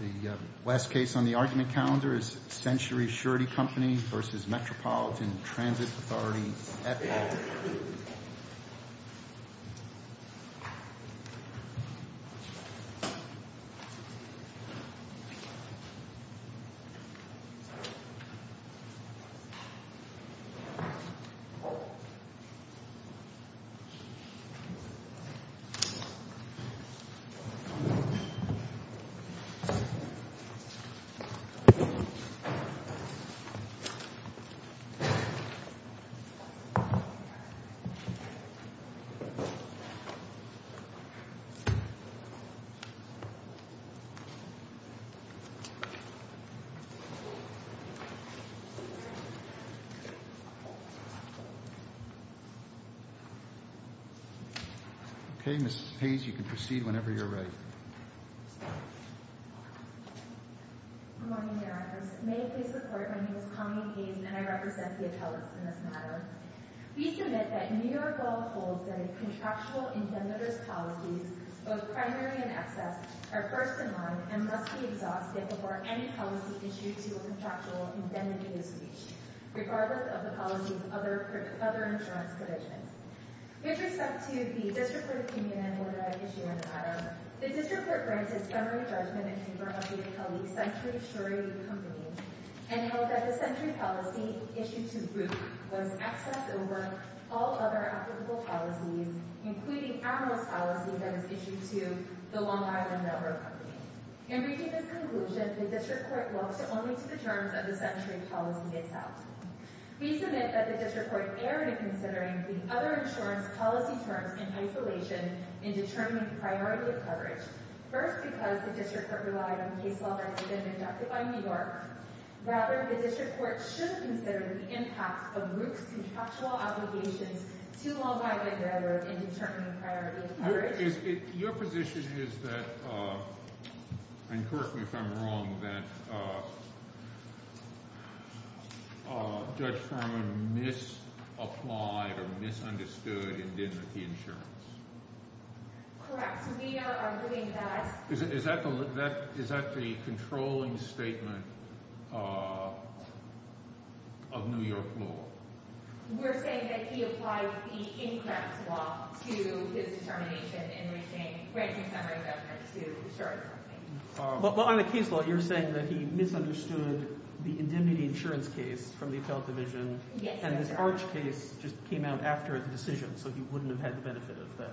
The last case on the argument calendar is Century Surety Company v. Metropolitan Transit Authority, Epcot. Please stand by. Please be seated. Good morning, Your Honors. May it please the Court, my name is Connie Gaines, and I represent the appellants in this matter. We submit that New York law holds that a contractual indemnity policy, both primary and excess, are first in line and must be exhausted before any policy issued to a contractual indemnity is reached, regardless of the policy's other insurance provisions. With respect to the District Court opinion and override issue in the matter, the District Court granted summary judgment in favor of the appellee, Century Surety Company, and held that the Century policy issued to Brooke was excess over all other applicable policies, including analyst policy that was issued to the Long Island Network Company. In reaching this conclusion, the District Court looks only to the terms of the Century policy itself. We submit that the District Court erred in considering the other insurance policy terms in isolation in determining priority of coverage, first because the District Court relied on case law that had been inducted by New York. Rather, the District Court should consider the impact of Brooke's contractual obligations to Long Island Network in determining priority of coverage. Your position is that—and correct me if I'm wrong—that Judge Furman misapplied or misunderstood indemnity insurance? Correct. So we are arguing that— Is that the controlling statement of New York law? We're saying that he applied the incorrect law to his determination in reaching—granting summary judgment to Surety Company. But on the case law, you're saying that he misunderstood the indemnity insurance case from the Appellate Division— Yes, that's correct. —and this Arch case just came out after the decision, so he wouldn't have had the benefit of that.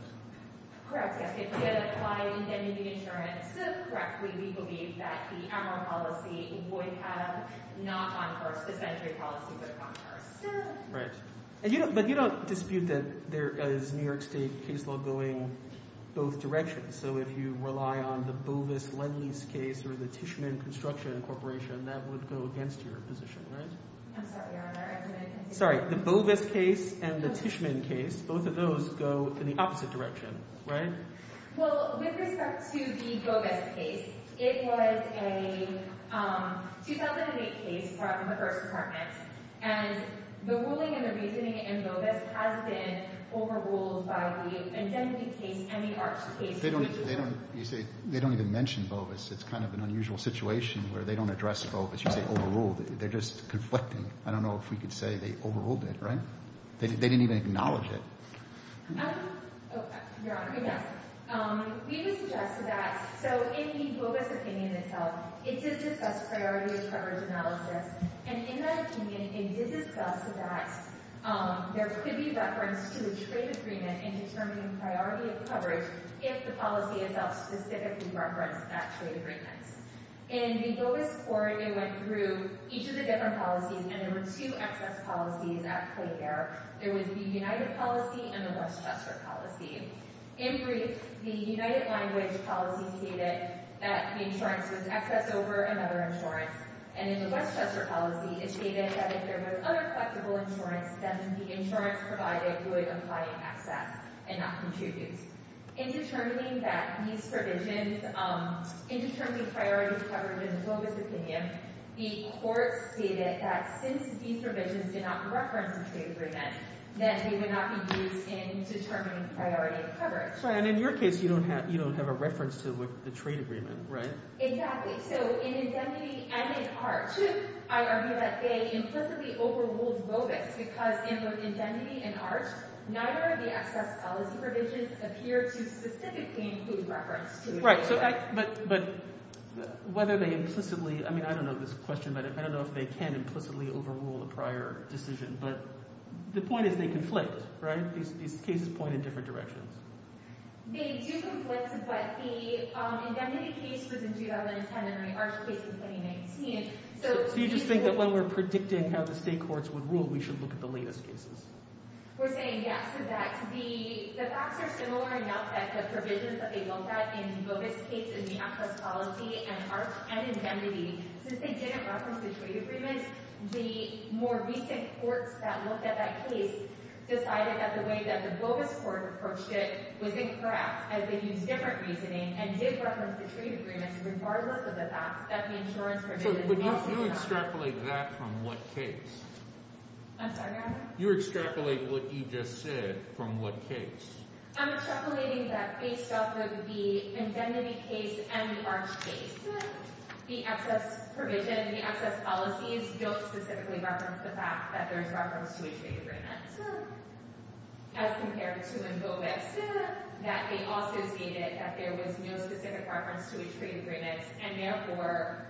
Correct. Yes, he did apply indemnity insurance. Correctly, we believe that the Emerald policy would have not gone first—the Century policy would have gone first. Right. And you don't—but you don't dispute that there is New York State case law going both directions. So if you rely on the Bovis-Ledleys case or the Tishman Construction Corporation, that would go against your position, right? I'm sorry. Our argument— Sorry, the Bovis case and the Tishman case, both of those go in the opposite direction, right? Well, with respect to the Bovis case, it was a 2008 case brought from the First Department, and the ruling and the reasoning in Bovis has been overruled by the indemnity case and the Arch case. They don't—you say—they don't even mention Bovis. It's kind of an unusual situation where they don't address Bovis. You say overruled it. They're just conflicting. I don't know if we could say they overruled it, right? They didn't even acknowledge it. Your Honor, yes. We would suggest that—so in the Bovis opinion itself, it did discuss priority of coverage analysis, and in that opinion, it did discuss that there could be reference to a trade agreement in determining priority of coverage if the policy itself specifically referenced that trade agreement. In the Bovis court, it went through each of the different policies, and there were two excess policies at play there. There was the United policy and the Westchester policy. In brief, the United language policy stated that the insurance was excess over another insurance, and in the Westchester policy, it stated that if there was other collectible insurance, then the insurance provider would apply excess and not contribute. In determining that these provisions—in determining priority of coverage in the Bovis opinion, the court stated that since these provisions did not reference the trade agreement, that they would not be used in determining priority of coverage. And in your case, you don't have a reference to the trade agreement, right? Exactly. So in indemnity and in arch, I argue that they implicitly overruled Bovis because in both indemnity and arch, neither of the excess policy provisions appear to specifically include reference to— Right, but whether they implicitly—I mean, I don't know this question, but I don't know if they can implicitly overrule a prior decision. But the point is they conflict, right? These cases point in different directions. They do conflict, but the indemnity case was in 2010 and the arch case was in 2019. So you just think that when we're predicting how the state courts would rule, we should look at the latest cases? We're saying yes to that. The facts are similar enough that the provisions that they looked at in Bovis case and the excess policy and arch and indemnity, since they didn't reference the trade agreement, the more recent courts that looked at that case decided that the way that the Bovis court approached it was incorrect as they used different reasoning and did reference the trade agreement regardless of the fact that the insurance— But you extrapolate that from what case? I'm sorry, Your Honor? You extrapolate what you just said from what case? I'm extrapolating that based off of the indemnity case and the arch case, the excess provision, the excess policies don't specifically reference the fact that there's reference to a trade agreement as compared to in Bovis, that they also stated that there was no specific reference to a trade agreement and therefore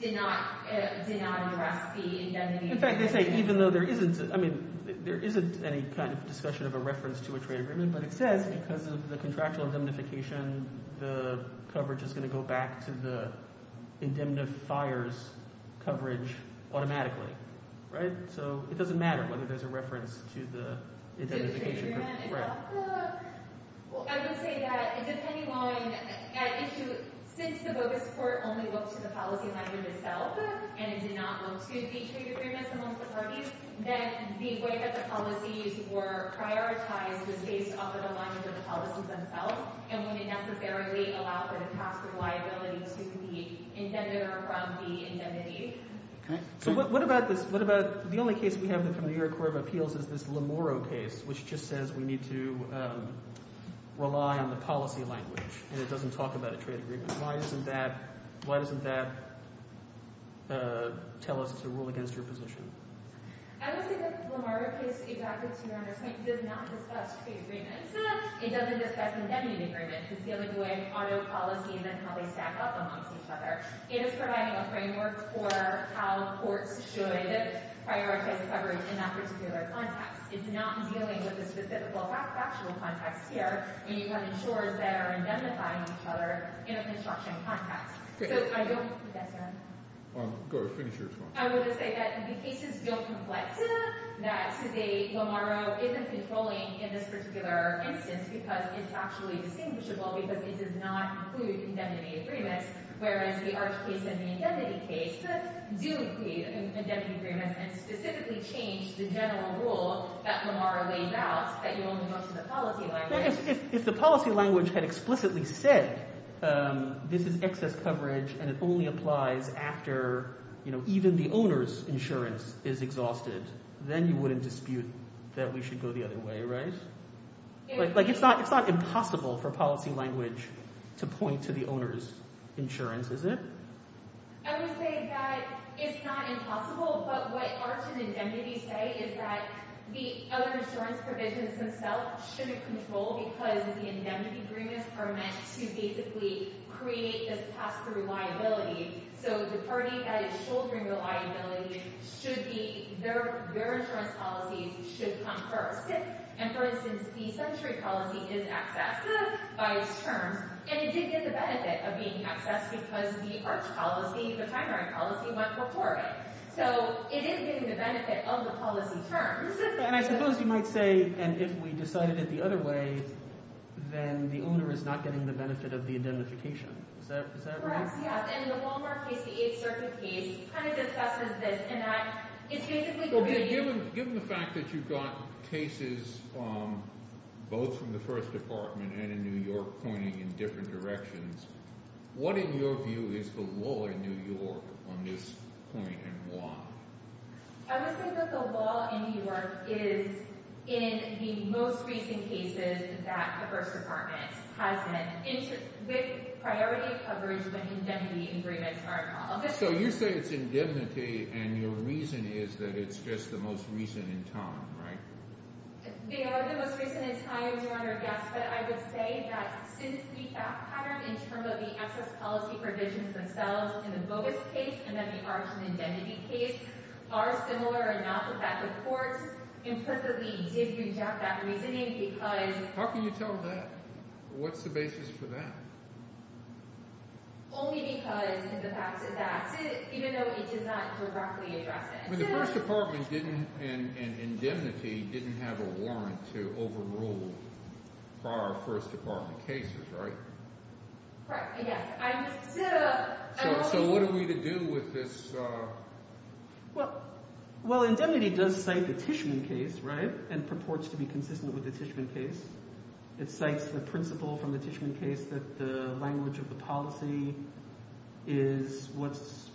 did not address the indemnity— In fact, they say even though there isn't—I mean, there isn't any kind of discussion of a reference to a trade agreement, but it says because of the contractual indemnification, the coverage is going to go back to the indemnifier's coverage automatically. So it doesn't matter whether there's a reference to the indemnification. I would say that depending on an issue, since the Bovis court only looked to the policy language itself and did not look to the trade agreements amongst the parties, then the way that the policies were prioritized was based off of the language of the policies themselves and wouldn't necessarily allow for the tax liability to the indemnifier from the indemnity. So what about this—the only case we have from the New York Court of Appeals is this Lamoro case, which just says we need to rely on the policy language, and it doesn't talk about a trade agreement. Why doesn't that tell us to rule against your position? I would say that the Lamoro case, exactly to your understanding, does not discuss trade agreements. It doesn't discuss indemnity agreements. It's dealing with auto policy and then how they stack up amongst each other. It is providing a framework for how courts should prioritize coverage in that particular context. It's not dealing with the specific factual context here, and you want insurers that are indemnifying each other in a construction context. So I don't—yes, sir? Go ahead. Finish your response. I would say that the cases feel complex enough that today Lamoro isn't controlling in this particular instance because it's actually distinguishable because it does not include indemnity agreements, whereas the Arch case and the indemnity case do include indemnity agreements and specifically change the general rule that Lamoro lays out that you only go to the policy language. If the policy language had explicitly said this is excess coverage and it only applies after even the owner's insurance is exhausted, then you wouldn't dispute that we should go the other way, right? It's not impossible for policy language to point to the owner's insurance, is it? I would say that it's not impossible, but what Arch and indemnity say is that the other insurance provisions themselves shouldn't control because the indemnity agreements are meant to basically create this pass-through liability. So the party that is shouldering the liability should be—their insurance policies should come first. And for instance, the century policy is excessive by its terms, and it did get the benefit of being excessive because the Arch policy, the primary policy, went before it. So it is getting the benefit of the policy terms. And I suppose you might say, and if we decided it the other way, then the owner is not getting the benefit of the indemnification. Is that right? Perhaps, yes. And in the Lamoro case, the Eighth Circuit case, kind of discusses this in that it's basically creating— Okay, given the fact that you've got cases both from the First Department and in New York pointing in different directions, what, in your view, is the law in New York on this point and why? I would say that the law in New York is in the most recent cases that the First Department has been—with priority coverage, but indemnity agreements are involved. So you say it's indemnity, and your reason is that it's just the most recent in time, right? They are the most recent in time, Your Honor, yes. But I would say that since the fact pattern in terms of the excess policy provisions themselves in the Bogus case and then the Arch and Indemnity case are similar or not with that, the courts implicitly did reject that reasoning because— How can you tell that? What's the basis for that? Only because of the facts of that, even though it does not directly address it. But the First Department didn't—and Indemnity didn't have a warrant to overrule prior First Department cases, right? Correct, yes. I'm just considering— So what are we to do with this? Well, Indemnity does cite the Tishman case, right, and purports to be consistent with the Tishman case. It cites the principle from the Tishman case that the language of the policy is what's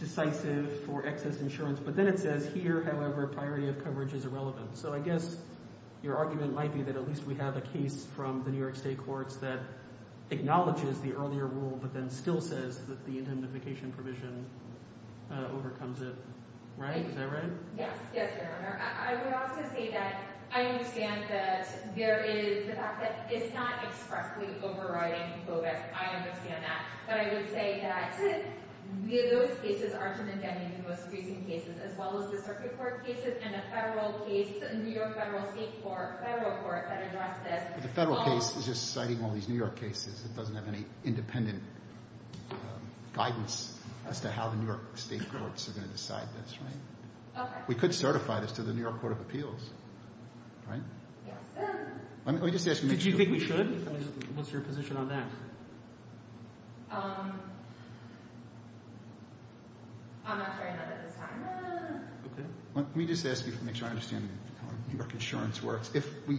decisive for excess insurance. But then it says here, however, priority of coverage is irrelevant. So I guess your argument might be that at least we have a case from the New York State courts that acknowledges the earlier rule but then still says that the indemnification provision overcomes it, right? Is that right? Yes. Yes, Your Honor. I would also say that I understand that there is the fact that it's not expressly overriding coverage. I understand that. But I would say that those cases are from Indemnity's most recent cases, as well as the circuit court cases and a federal case, a New York federal state court, federal court that addressed this. But the federal case is just citing all these New York cases. It doesn't have any independent guidance as to how the New York state courts are going to decide this, right? Okay. We could certify this to the New York Court of Appeals, right? Yes. Let me just ask you. Did you think we should? What's your position on that? I'm not sure I know that at this time. Okay. Let me just ask you to make sure I understand how New York insurance works. If we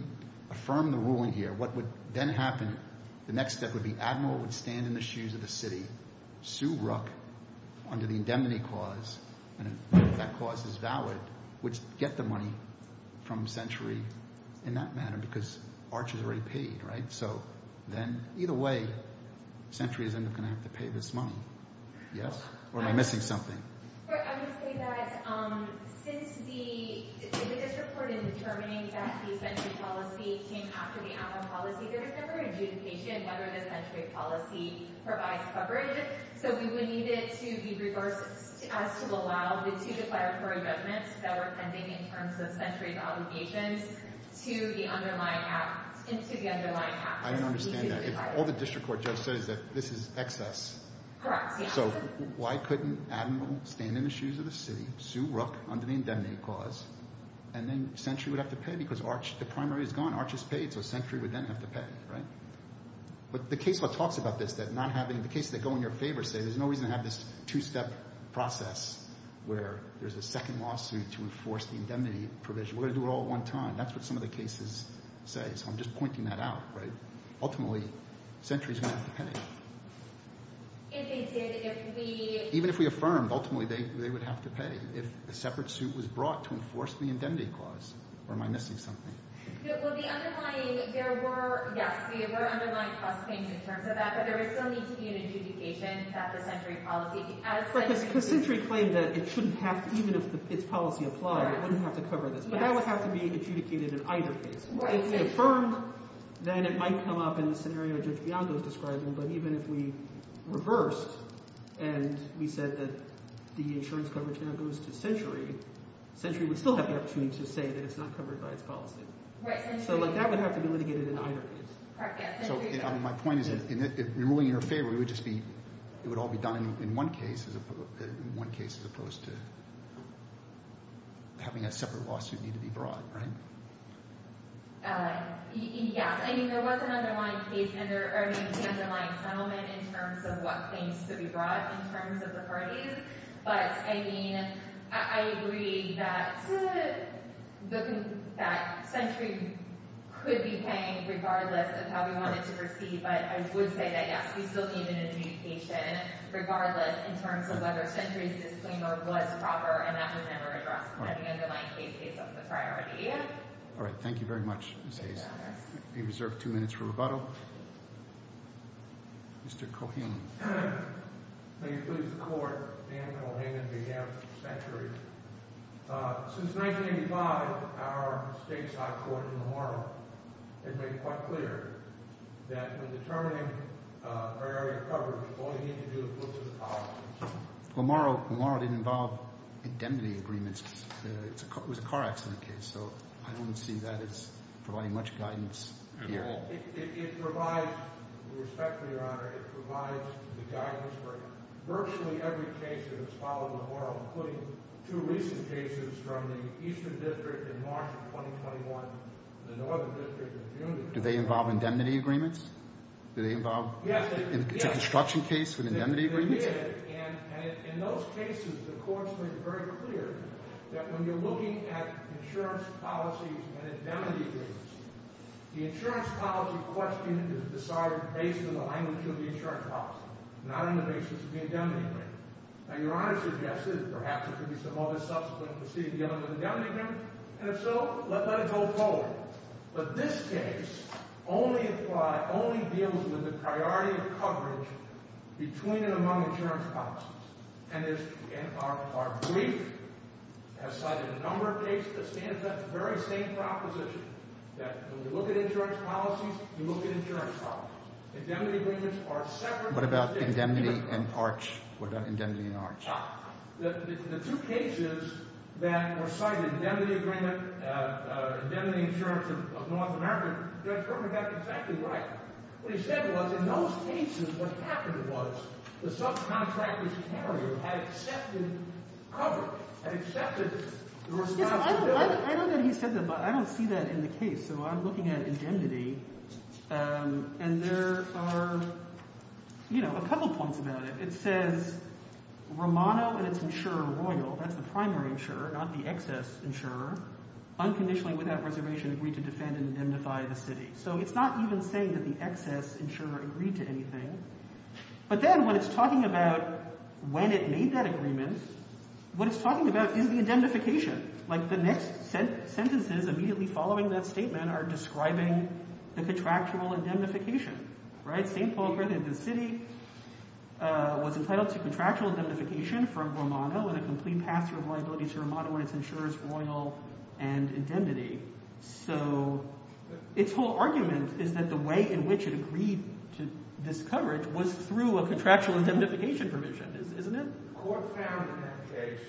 affirm the ruling here, what would then happen, the next step would be Admiral would stand in the shoes of the city, sue Rook under the Indemnity clause, and if that clause is valid, would get the money from Century in that manner, because Arch has already paid, right? So then either way, Century is going to have to pay this money. Yes? Or am I missing something? I would say that since the district court in determining that the Century policy came after the Admiral policy, there was never an adjudication whether the Century policy provides coverage. So we would need it to be reversed as to allow the two declaratory judgments that were pending in terms of Century's obligations to the underlying act. I don't understand that. All the district court just said is that this is excess. Correct. So why couldn't Admiral stand in the shoes of the city, sue Rook under the Indemnity clause, and then Century would have to pay because Arch, the primary is gone, Arch has paid, so Century would then have to pay, right? But the case that talks about this, the cases that go in your favor say there's no reason to have this two-step process where there's a second lawsuit to enforce the Indemnity provision. We're going to do it all at one time. That's what some of the cases say. So I'm just pointing that out, right? Ultimately, Century is going to have to pay. Even if we affirmed, ultimately they would have to pay. If a separate suit was brought to enforce the Indemnity clause, or am I missing something? Well, the underlying – there were – yes, there were underlying cost payments in terms of that, but there would still need to be an adjudication that the Century policy, as Century – Because Century claimed that it shouldn't have – even if its policy applied, it wouldn't have to cover this. But that would have to be adjudicated in either case. If we affirmed, then it might come up in the scenario Judge Bianco is describing, but even if we reversed and we said that the insurance coverage now goes to Century, Century would still have the opportunity to say that it's not covered by its policy. So that would have to be litigated in either case. So my point is in ruling in your favor, it would just be – it would all be done in one case as opposed to having a separate lawsuit need to be brought, right? Yes. I mean, there was an underlying case – I mean, an underlying settlement in terms of what claims to be brought in terms of the parties. But, I mean, I agree that Century could be paying regardless of how we wanted to proceed, but I would say that, yes, we still need an adjudication regardless in terms of whether Century's disclaimer was proper, and that was never addressed in any of the nine cases of the priority. All right. Thank you very much, Ms. Hayes. We reserve two minutes for rebuttal. Mr. Cohen. May it please the Court, Dan Cohen on behalf of Century. Since 1985, our stateside court in Lamarra has made it quite clear that when determining barrier coverage, all you need to do is look to the policy. Lamarra didn't involve indemnity agreements. It was a car accident case, so I don't see that as providing much guidance at all. It provides – with respect to Your Honor, it provides the guidance for virtually every case that has followed Lamarra, including two recent cases from the Eastern District in March of 2021 and the Northern District in June. Do they involve indemnity agreements? Do they involve – Yes. Indemnity agreements? They did, and in those cases, the courts made it very clear that when you're looking at insurance policies and indemnity agreements, the insurance policy question is decided based on the language of the insurance policy, not on the basis of the indemnity agreement. Now, Your Honor suggested that perhaps there could be some other subsequent proceeding beyond the indemnity agreement, and if so, let it go forward. But this case only deals with the priority of coverage between and among insurance policies, and our brief has cited a number of cases that stand for that very same proposition, that when you look at insurance policies, you look at insurance policies. Indemnity agreements are separate things. What about indemnity and ARCH? The two cases that were cited, indemnity agreement, indemnity insurance of North America, Judge Gerber got exactly right. What he said was in those cases, what happened was the subcontractor's carrier had accepted coverage, had accepted the responsibility. I don't know that he said that, but I don't see that in the case, so I'm looking at indemnity, and there are a couple points about it. It says Romano and its insurer Royal, that's the primary insurer, not the excess insurer, unconditionally without reservation agreed to defend and indemnify the city. So it's not even saying that the excess insurer agreed to anything. But then when it's talking about when it made that agreement, what it's talking about is the indemnification. Like the next sentences immediately following that statement are describing the contractual indemnification, right? It's saying Paul Griffin of the city was entitled to contractual indemnification from Romano with a complete pass through liability to Romano and its insurers Royal and indemnity. So its whole argument is that the way in which it agreed to this coverage was through a contractual indemnification provision, isn't it? The court found in that case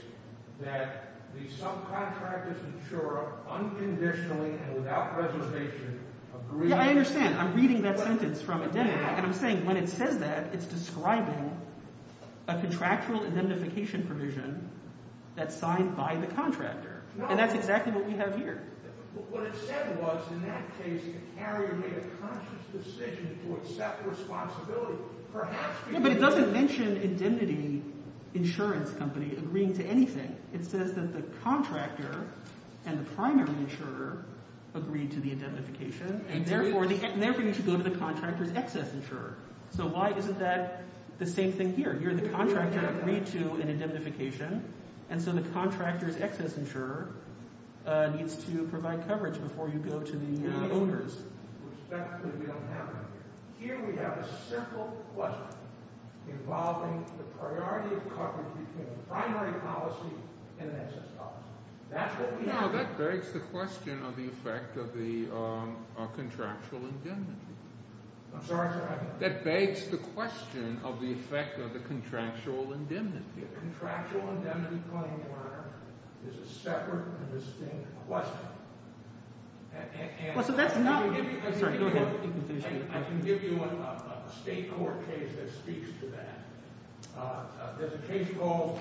that the subcontractor's insurer unconditionally and without reservation agreed to… Yeah, I understand. I'm reading that sentence from indemnity, and I'm saying when it says that, it's describing a contractual indemnification provision that's signed by the contractor. And that's exactly what we have here. What it said was in that case the carrier made a conscious decision to accept responsibility. Yeah, but it doesn't mention indemnity insurance company agreeing to anything. It says that the contractor and the primary insurer agreed to the indemnification, and therefore you should go to the contractor's excess insurer. So why isn't that the same thing here? You're the contractor agreed to an indemnification, and so the contractor's excess insurer needs to provide coverage before you go to the owners. Here we have a simple question involving the priority of coverage between a primary policy and an excess policy. You know, that begs the question of the effect of the contractual indemnity. I'm sorry, sir. That begs the question of the effect of the contractual indemnity. The contractual indemnity claim, Your Honor, is a separate and distinct question. I can give you a state court case that speaks to that. There's a case called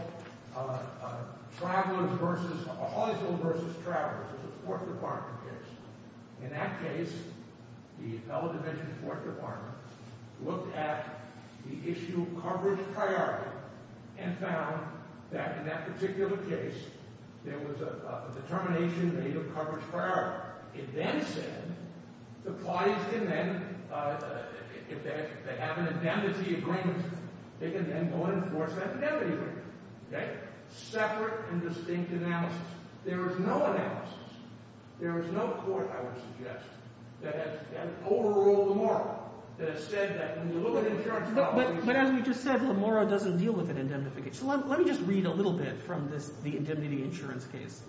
Hollisville v. Travelers. It's a Fourth Department case. In that case, the fellow division Fourth Department looked at the issue of coverage priority and found that in that particular case, there was a determination made of coverage priority. It then said the parties can then, if they have an indemnity agreement, they can then go and enforce that indemnity agreement. Okay? Separate and distinct analysis. There is no analysis. There is no court, I would suggest, that has overruled Lamora, that has said that when you look at insurance policy— But as we just said, Lamora doesn't deal with an indemnification. Let me just read a little bit from the indemnity insurance case.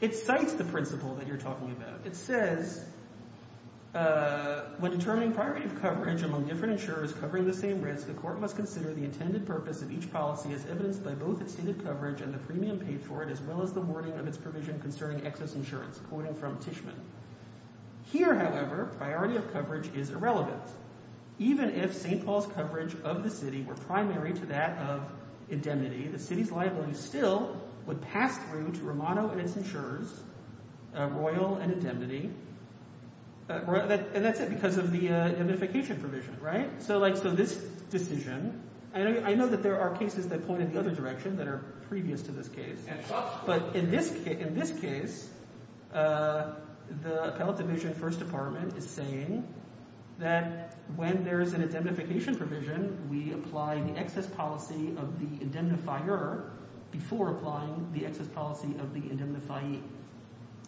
It cites the principle that you're talking about. It says, when determining priority of coverage among different insurers covering the same risk, the court must consider the intended purpose of each policy as evidenced by both its stated coverage and the premium paid for it, as well as the wording of its provision concerning excess insurance, quoting from Tishman. Here, however, priority of coverage is irrelevant. Even if St. Paul's coverage of the city were primary to that of indemnity, the city's liability still would pass through to Romano and its insurers, Royal and Indemnity. And that's because of the indemnification provision, right? So, like, so this decision—I know that there are cases that point in the other direction that are previous to this case. But in this case, the Appellate Division, First Department, is saying that when there is an indemnification provision, we apply the excess policy of the indemnifier before applying the excess policy of the indemnifying.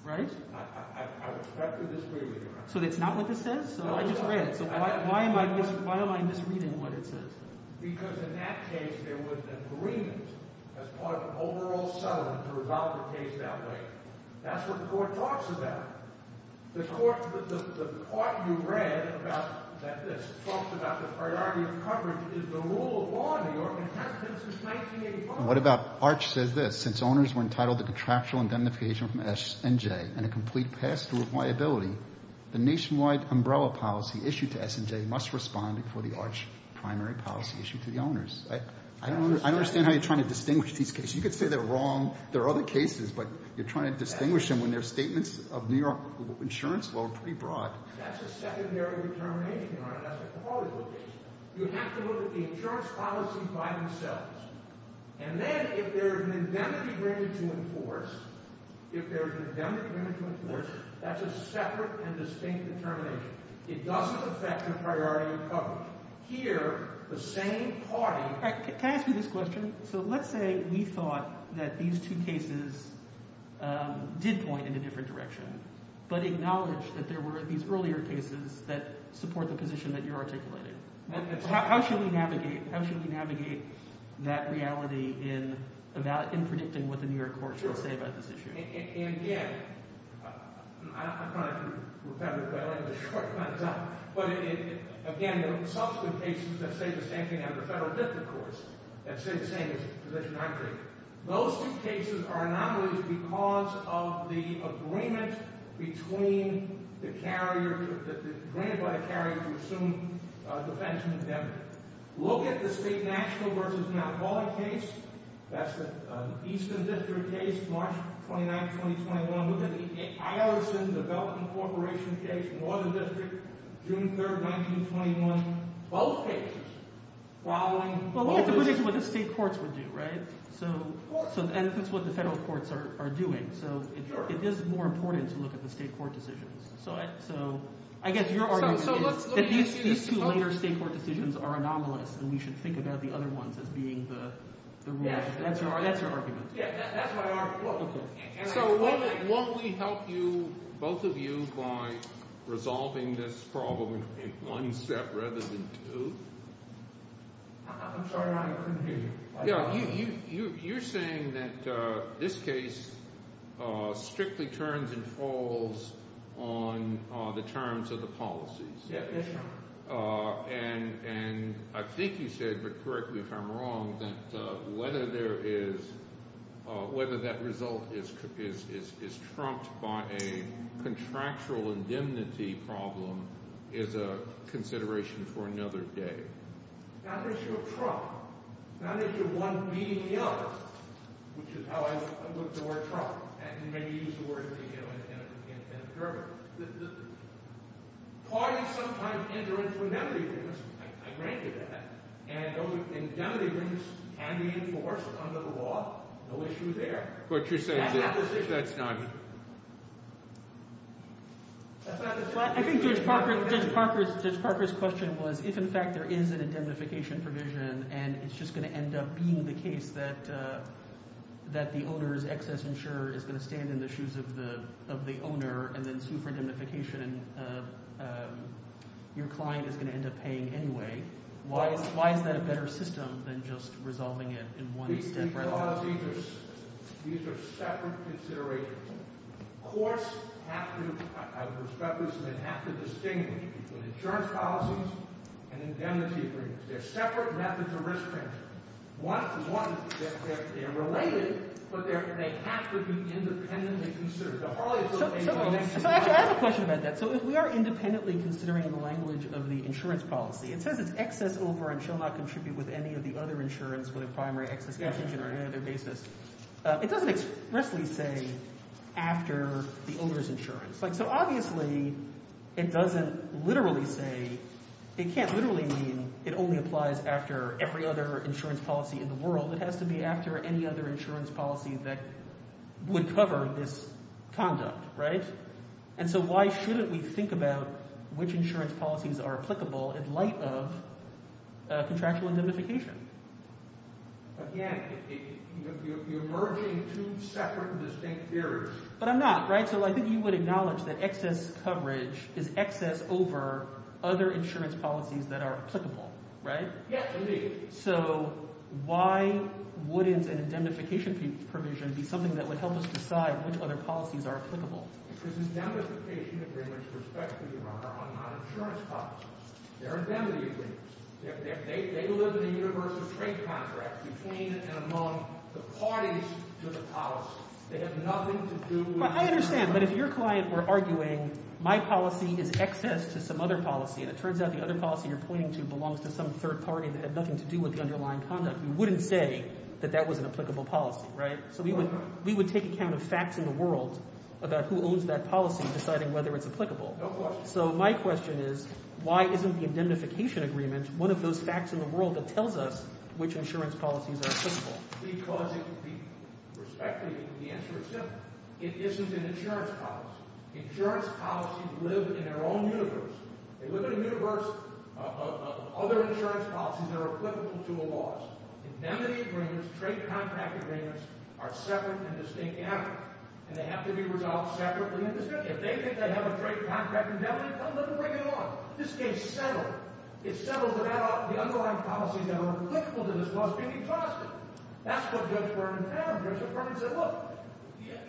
Right? I was correct in this reading. So it's not what this says? No, it's not. So I just read it. So why am I misreading what it says? Because in that case, there was an agreement as part of an overall settlement to resolve the case that way. That's what the Court talks about. The Court—the part you read about that this—talks about the priority of coverage is the rule of law in New York and has been since 1985. And what about—ARCH says this. Since owners were entitled to contractual indemnification from S&J and a complete pass-through of liability, the nationwide umbrella policy issued to S&J must respond before the ARCH primary policy issued to the owners. I don't understand how you're trying to distinguish these cases. You could say they're wrong. There are other cases, but you're trying to distinguish them when their statements of New York insurance law are pretty broad. That's a secondary determination, Your Honor. That's a quality of the case. You have to look at the insurance policy by themselves. And then if there is an indemnity granted to enforce—if there is an indemnity granted to enforce, that's a separate and distinct determination. It doesn't affect the priority of coverage. Here, the same party— Can I ask you this question? So let's say we thought that these two cases did point in a different direction but acknowledged that there were these earlier cases that support the position that you're articulating. How should we navigate—how should we navigate that reality in predicting what the New York courts will say about this issue? And, again, I'm trying to repetitively—I'm short on time. But, again, there are subsequent cases that say the same thing out of the federal district courts that say the same position I'm taking. Those two cases are anomalies because of the agreement between the carrier—granted by the carrier to assume defense and indemnity. Look at the state national versus not quality case. That's the Eastern District case, March 29, 2021. Look at the I.R.S.N. Development Corporation case, Northern District, June 3, 1921. Both cases following— Well, we have to predict what the state courts would do, right? So that's what the federal courts are doing. So it is more important to look at the state court decisions. So I guess your argument is that these two later state court decisions are anomalous, and we should think about the other ones as being the rules. That's your argument. That's my argument. So won't we help you, both of you, by resolving this problem in one step rather than two? I'm sorry. I couldn't hear you. You're saying that this case strictly turns and falls on the terms of the policies. Yes, sir. And I think you said, but correct me if I'm wrong, that whether there is—whether that result is trumped by a contractual indemnity problem is a consideration for another day. Not an issue of trump. Not an issue of one beating the other, which is how I looked at the word trump. And you may use the word, you know, in a permit. Parties sometimes enter into indemnity agreements. I granted that. And those indemnity agreements can be enforced under the law. No issue there. But you're saying that that's not— That's not the issue. I think Judge Parker's question was if, in fact, there is an indemnification provision and it's just going to end up being the case that the owner's excess insurer is going to stand in the shoes of the owner and then sue for indemnification and your client is going to end up paying anyway, why is that a better system than just resolving it in one step rather than two? These are separate considerations. Courts have to—I respect this, but they have to distinguish between insurance policies and indemnity agreements. They're separate methods of risk management. One, they're related, but they have to be independently considered. The Harley-Clinton case— So, actually, I have a question about that. So if we are independently considering the language of the insurance policy, it says it's excess over and shall not contribute with any of the other insurance with a primary excess contingent or any other basis. It doesn't expressly say after the owner's insurance. So, obviously, it doesn't literally say—it can't literally mean it only applies after every other insurance policy in the world. It has to be after any other insurance policy that would cover this conduct, right? And so why shouldn't we think about which insurance policies are applicable in light of contractual indemnification? Again, you're merging two separate and distinct theories. But I'm not, right? So I think you would acknowledge that excess coverage is excess over other insurance policies that are applicable, right? Yes, indeed. So why wouldn't an indemnification provision be something that would help us decide which other policies are applicable? Because indemnification agreements respect who you are on non-insurance policies. They're indemnity agreements. They live in a universal trade contract between and among the parties to the policy. They have nothing to do with— I understand, but if your client were arguing my policy is excess to some other policy, and it turns out the other policy you're pointing to belongs to some third party that had nothing to do with the underlying conduct, you wouldn't say that that was an applicable policy, right? So we would take account of facts in the world about who owns that policy, deciding whether it's applicable. No question. My question is why isn't the indemnification agreement one of those facts in the world that tells us which insurance policies are applicable? Because it would be—respectfully, the answer is simple. It isn't an insurance policy. Insurance policies live in their own universe. They live in a universe of other insurance policies that are applicable to a law's. Indemnity agreements, trade contract agreements, are separate and distinct avenues. And they have to be resolved separately and distinctly. If they think they have a trade contract indemnity, tell them to bring it on. This case settled. It settled without the underlying policies that are applicable to this law's being exhausted. That's what Judge Berman found. Judge Berman said, look,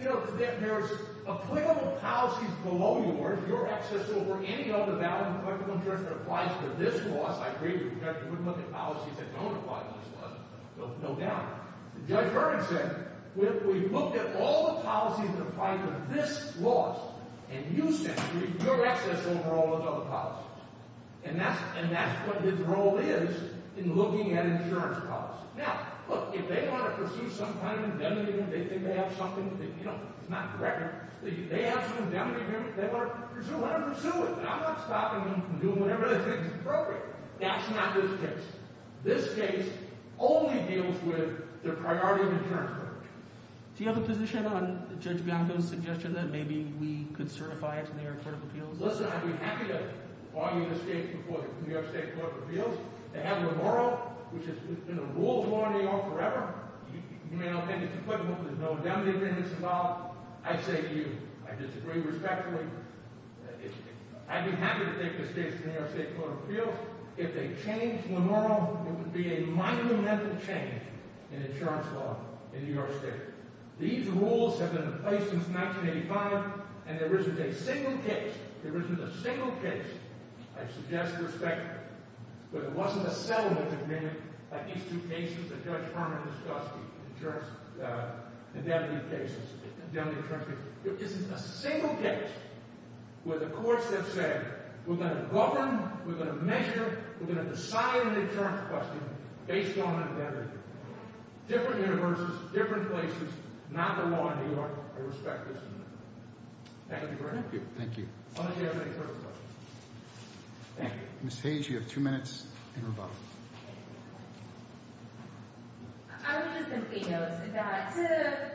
you know, there's applicable policies below yours. You're excessible for any other valid and applicable insurance that applies to this law's. I agree with you. You wouldn't look at policies that don't apply to this law's. No doubt. Judge Berman said, look, we've looked at all the policies that apply to this law's, and you said you're excessible for all those other policies. And that's what his role is in looking at insurance policies. Now, look, if they want to pursue some kind of indemnity agreement, they think they have something, you know, it's not correct, they have some indemnity agreement, they want to pursue it. I'm not stopping them from doing whatever they think is appropriate. That's not this case. This case only deals with the priority of insurance coverage. Do you have a position on Judge Bianco's suggestion that maybe we could certify it to the New York Court of Appeals? Listen, I'd be happy to argue this case before the New York State Court of Appeals. They have Lemoro, which has been a rule of law in New York forever. You may not think it's equivalent, but there's no indemnity agreements involved. I say to you, I disagree respectfully. I'd be happy to take this case to the New York State Court of Appeals. If they change Lemoro, it would be a monumental change in insurance law in New York State. These rules have been in place since 1985, and there isn't a single case, there isn't a single case, I suggest respectfully, where there wasn't a settlement agreement on these two cases that Judge Harmon discussed, the insurance indemnity cases, the indemnity insurance cases. There isn't a single case where the courts have said, we're going to govern, we're going to measure, we're going to decide on the insurance question based on indemnity. Different universes, different places, not the law in New York. I respect this amendment. Thank you very much. Thank you. Unless you have any further questions. Thank you. Ms. Hayes, you have two minutes and rebuttal. I would just simply note that the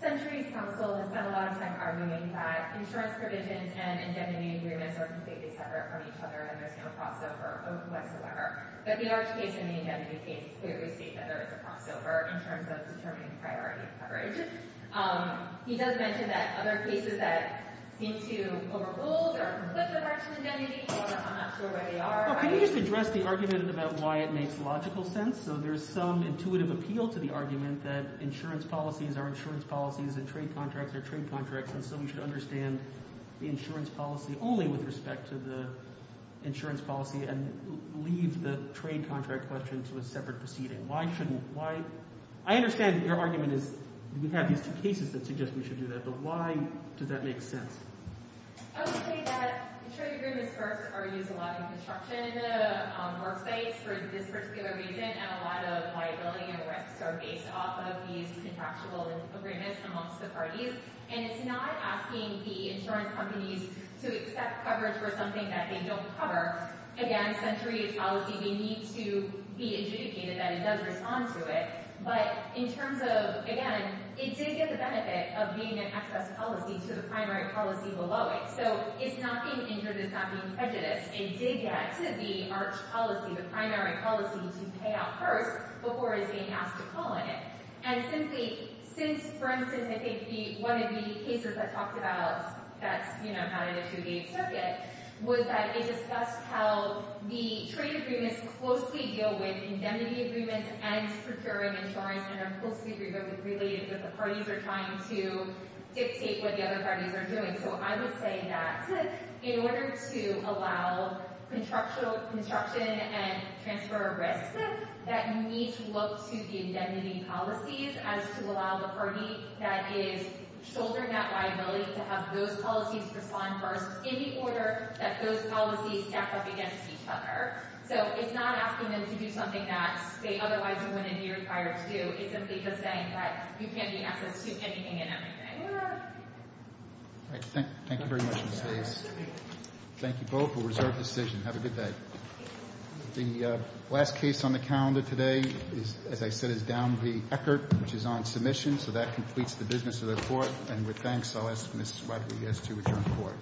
Centuries Council has spent a lot of time arguing that insurance provisions and indemnity agreements are completely separate from each other and there's no crossover whatsoever. But the Arch case and the indemnity case clearly state that there is a crossover in terms of determining priority coverage. He does mention that other cases that seem to overrule or conflict with arch indemnity, although I'm not sure where they are. Can you just address the argument about why it makes logical sense? So there's some intuitive appeal to the argument that insurance policies are insurance policies and trade contracts are trade contracts and so we should understand the insurance policy only with respect to the insurance policy and leave the trade contract question to a separate proceeding. I understand that your argument is we have these two cases that suggest we should do that, but why does that make sense? I would say that trade agreements first are used a lot in construction worksites for this particular reason and a lot of liability and risks are based off of these contractual agreements amongst the parties and it's not asking the insurance companies to accept coverage for something that they don't cover. Again, Centuries policy may need to be adjudicated that it does respond to it, but in terms of, again, it did get the benefit of being an excess policy to the primary policy below it. So it's not being injured, it's not being prejudiced. It did get to the arch policy, the primary policy, to pay out first before it's being asked to call on it. And simply, since, for instance, I think one of the cases that talked about that's not in the 28th Circuit was that it discussed how the trade agreements closely deal with indemnity agreements and procuring insurance and are closely related, but the parties are trying to dictate what the other parties are doing. So I would say that in order to allow construction and transfer of risks, that you need to look to the indemnity policies as to allow the party that is shouldering that liability to have those policies respond first in the order that those policies act up against each other. So it's not asking them to do something that they otherwise wouldn't be required to do. It's simply just saying that you can't be an excess to anything and everything. All right. Thank you very much, Ms. Davis. Thank you both. A reserved decision. Have a good day. The last case on the calendar today, as I said, is down the Eckert, which is on submission. So that completes the business of the Court. And with thanks, I'll ask Ms. Wadley to return to the Court.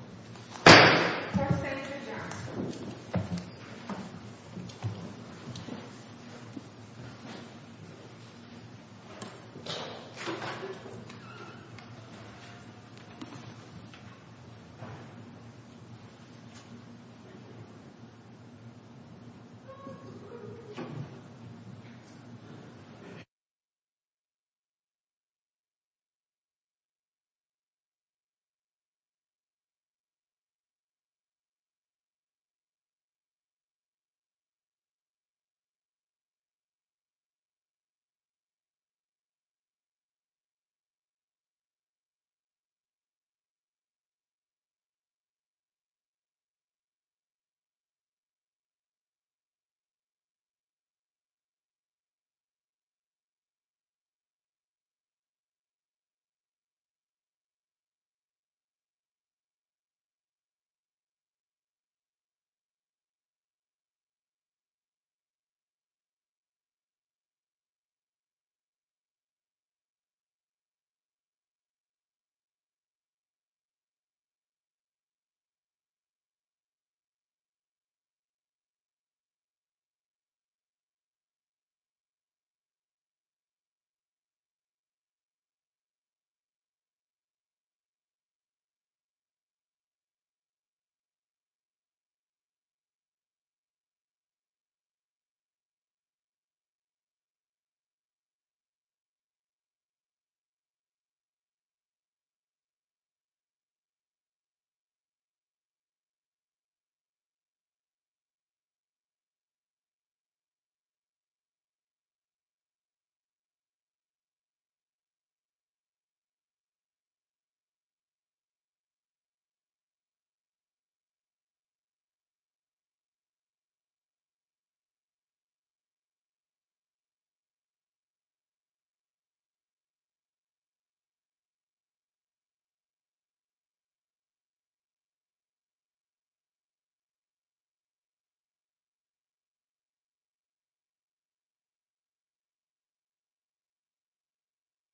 Thank you. Thank you. Thank you. Thank you.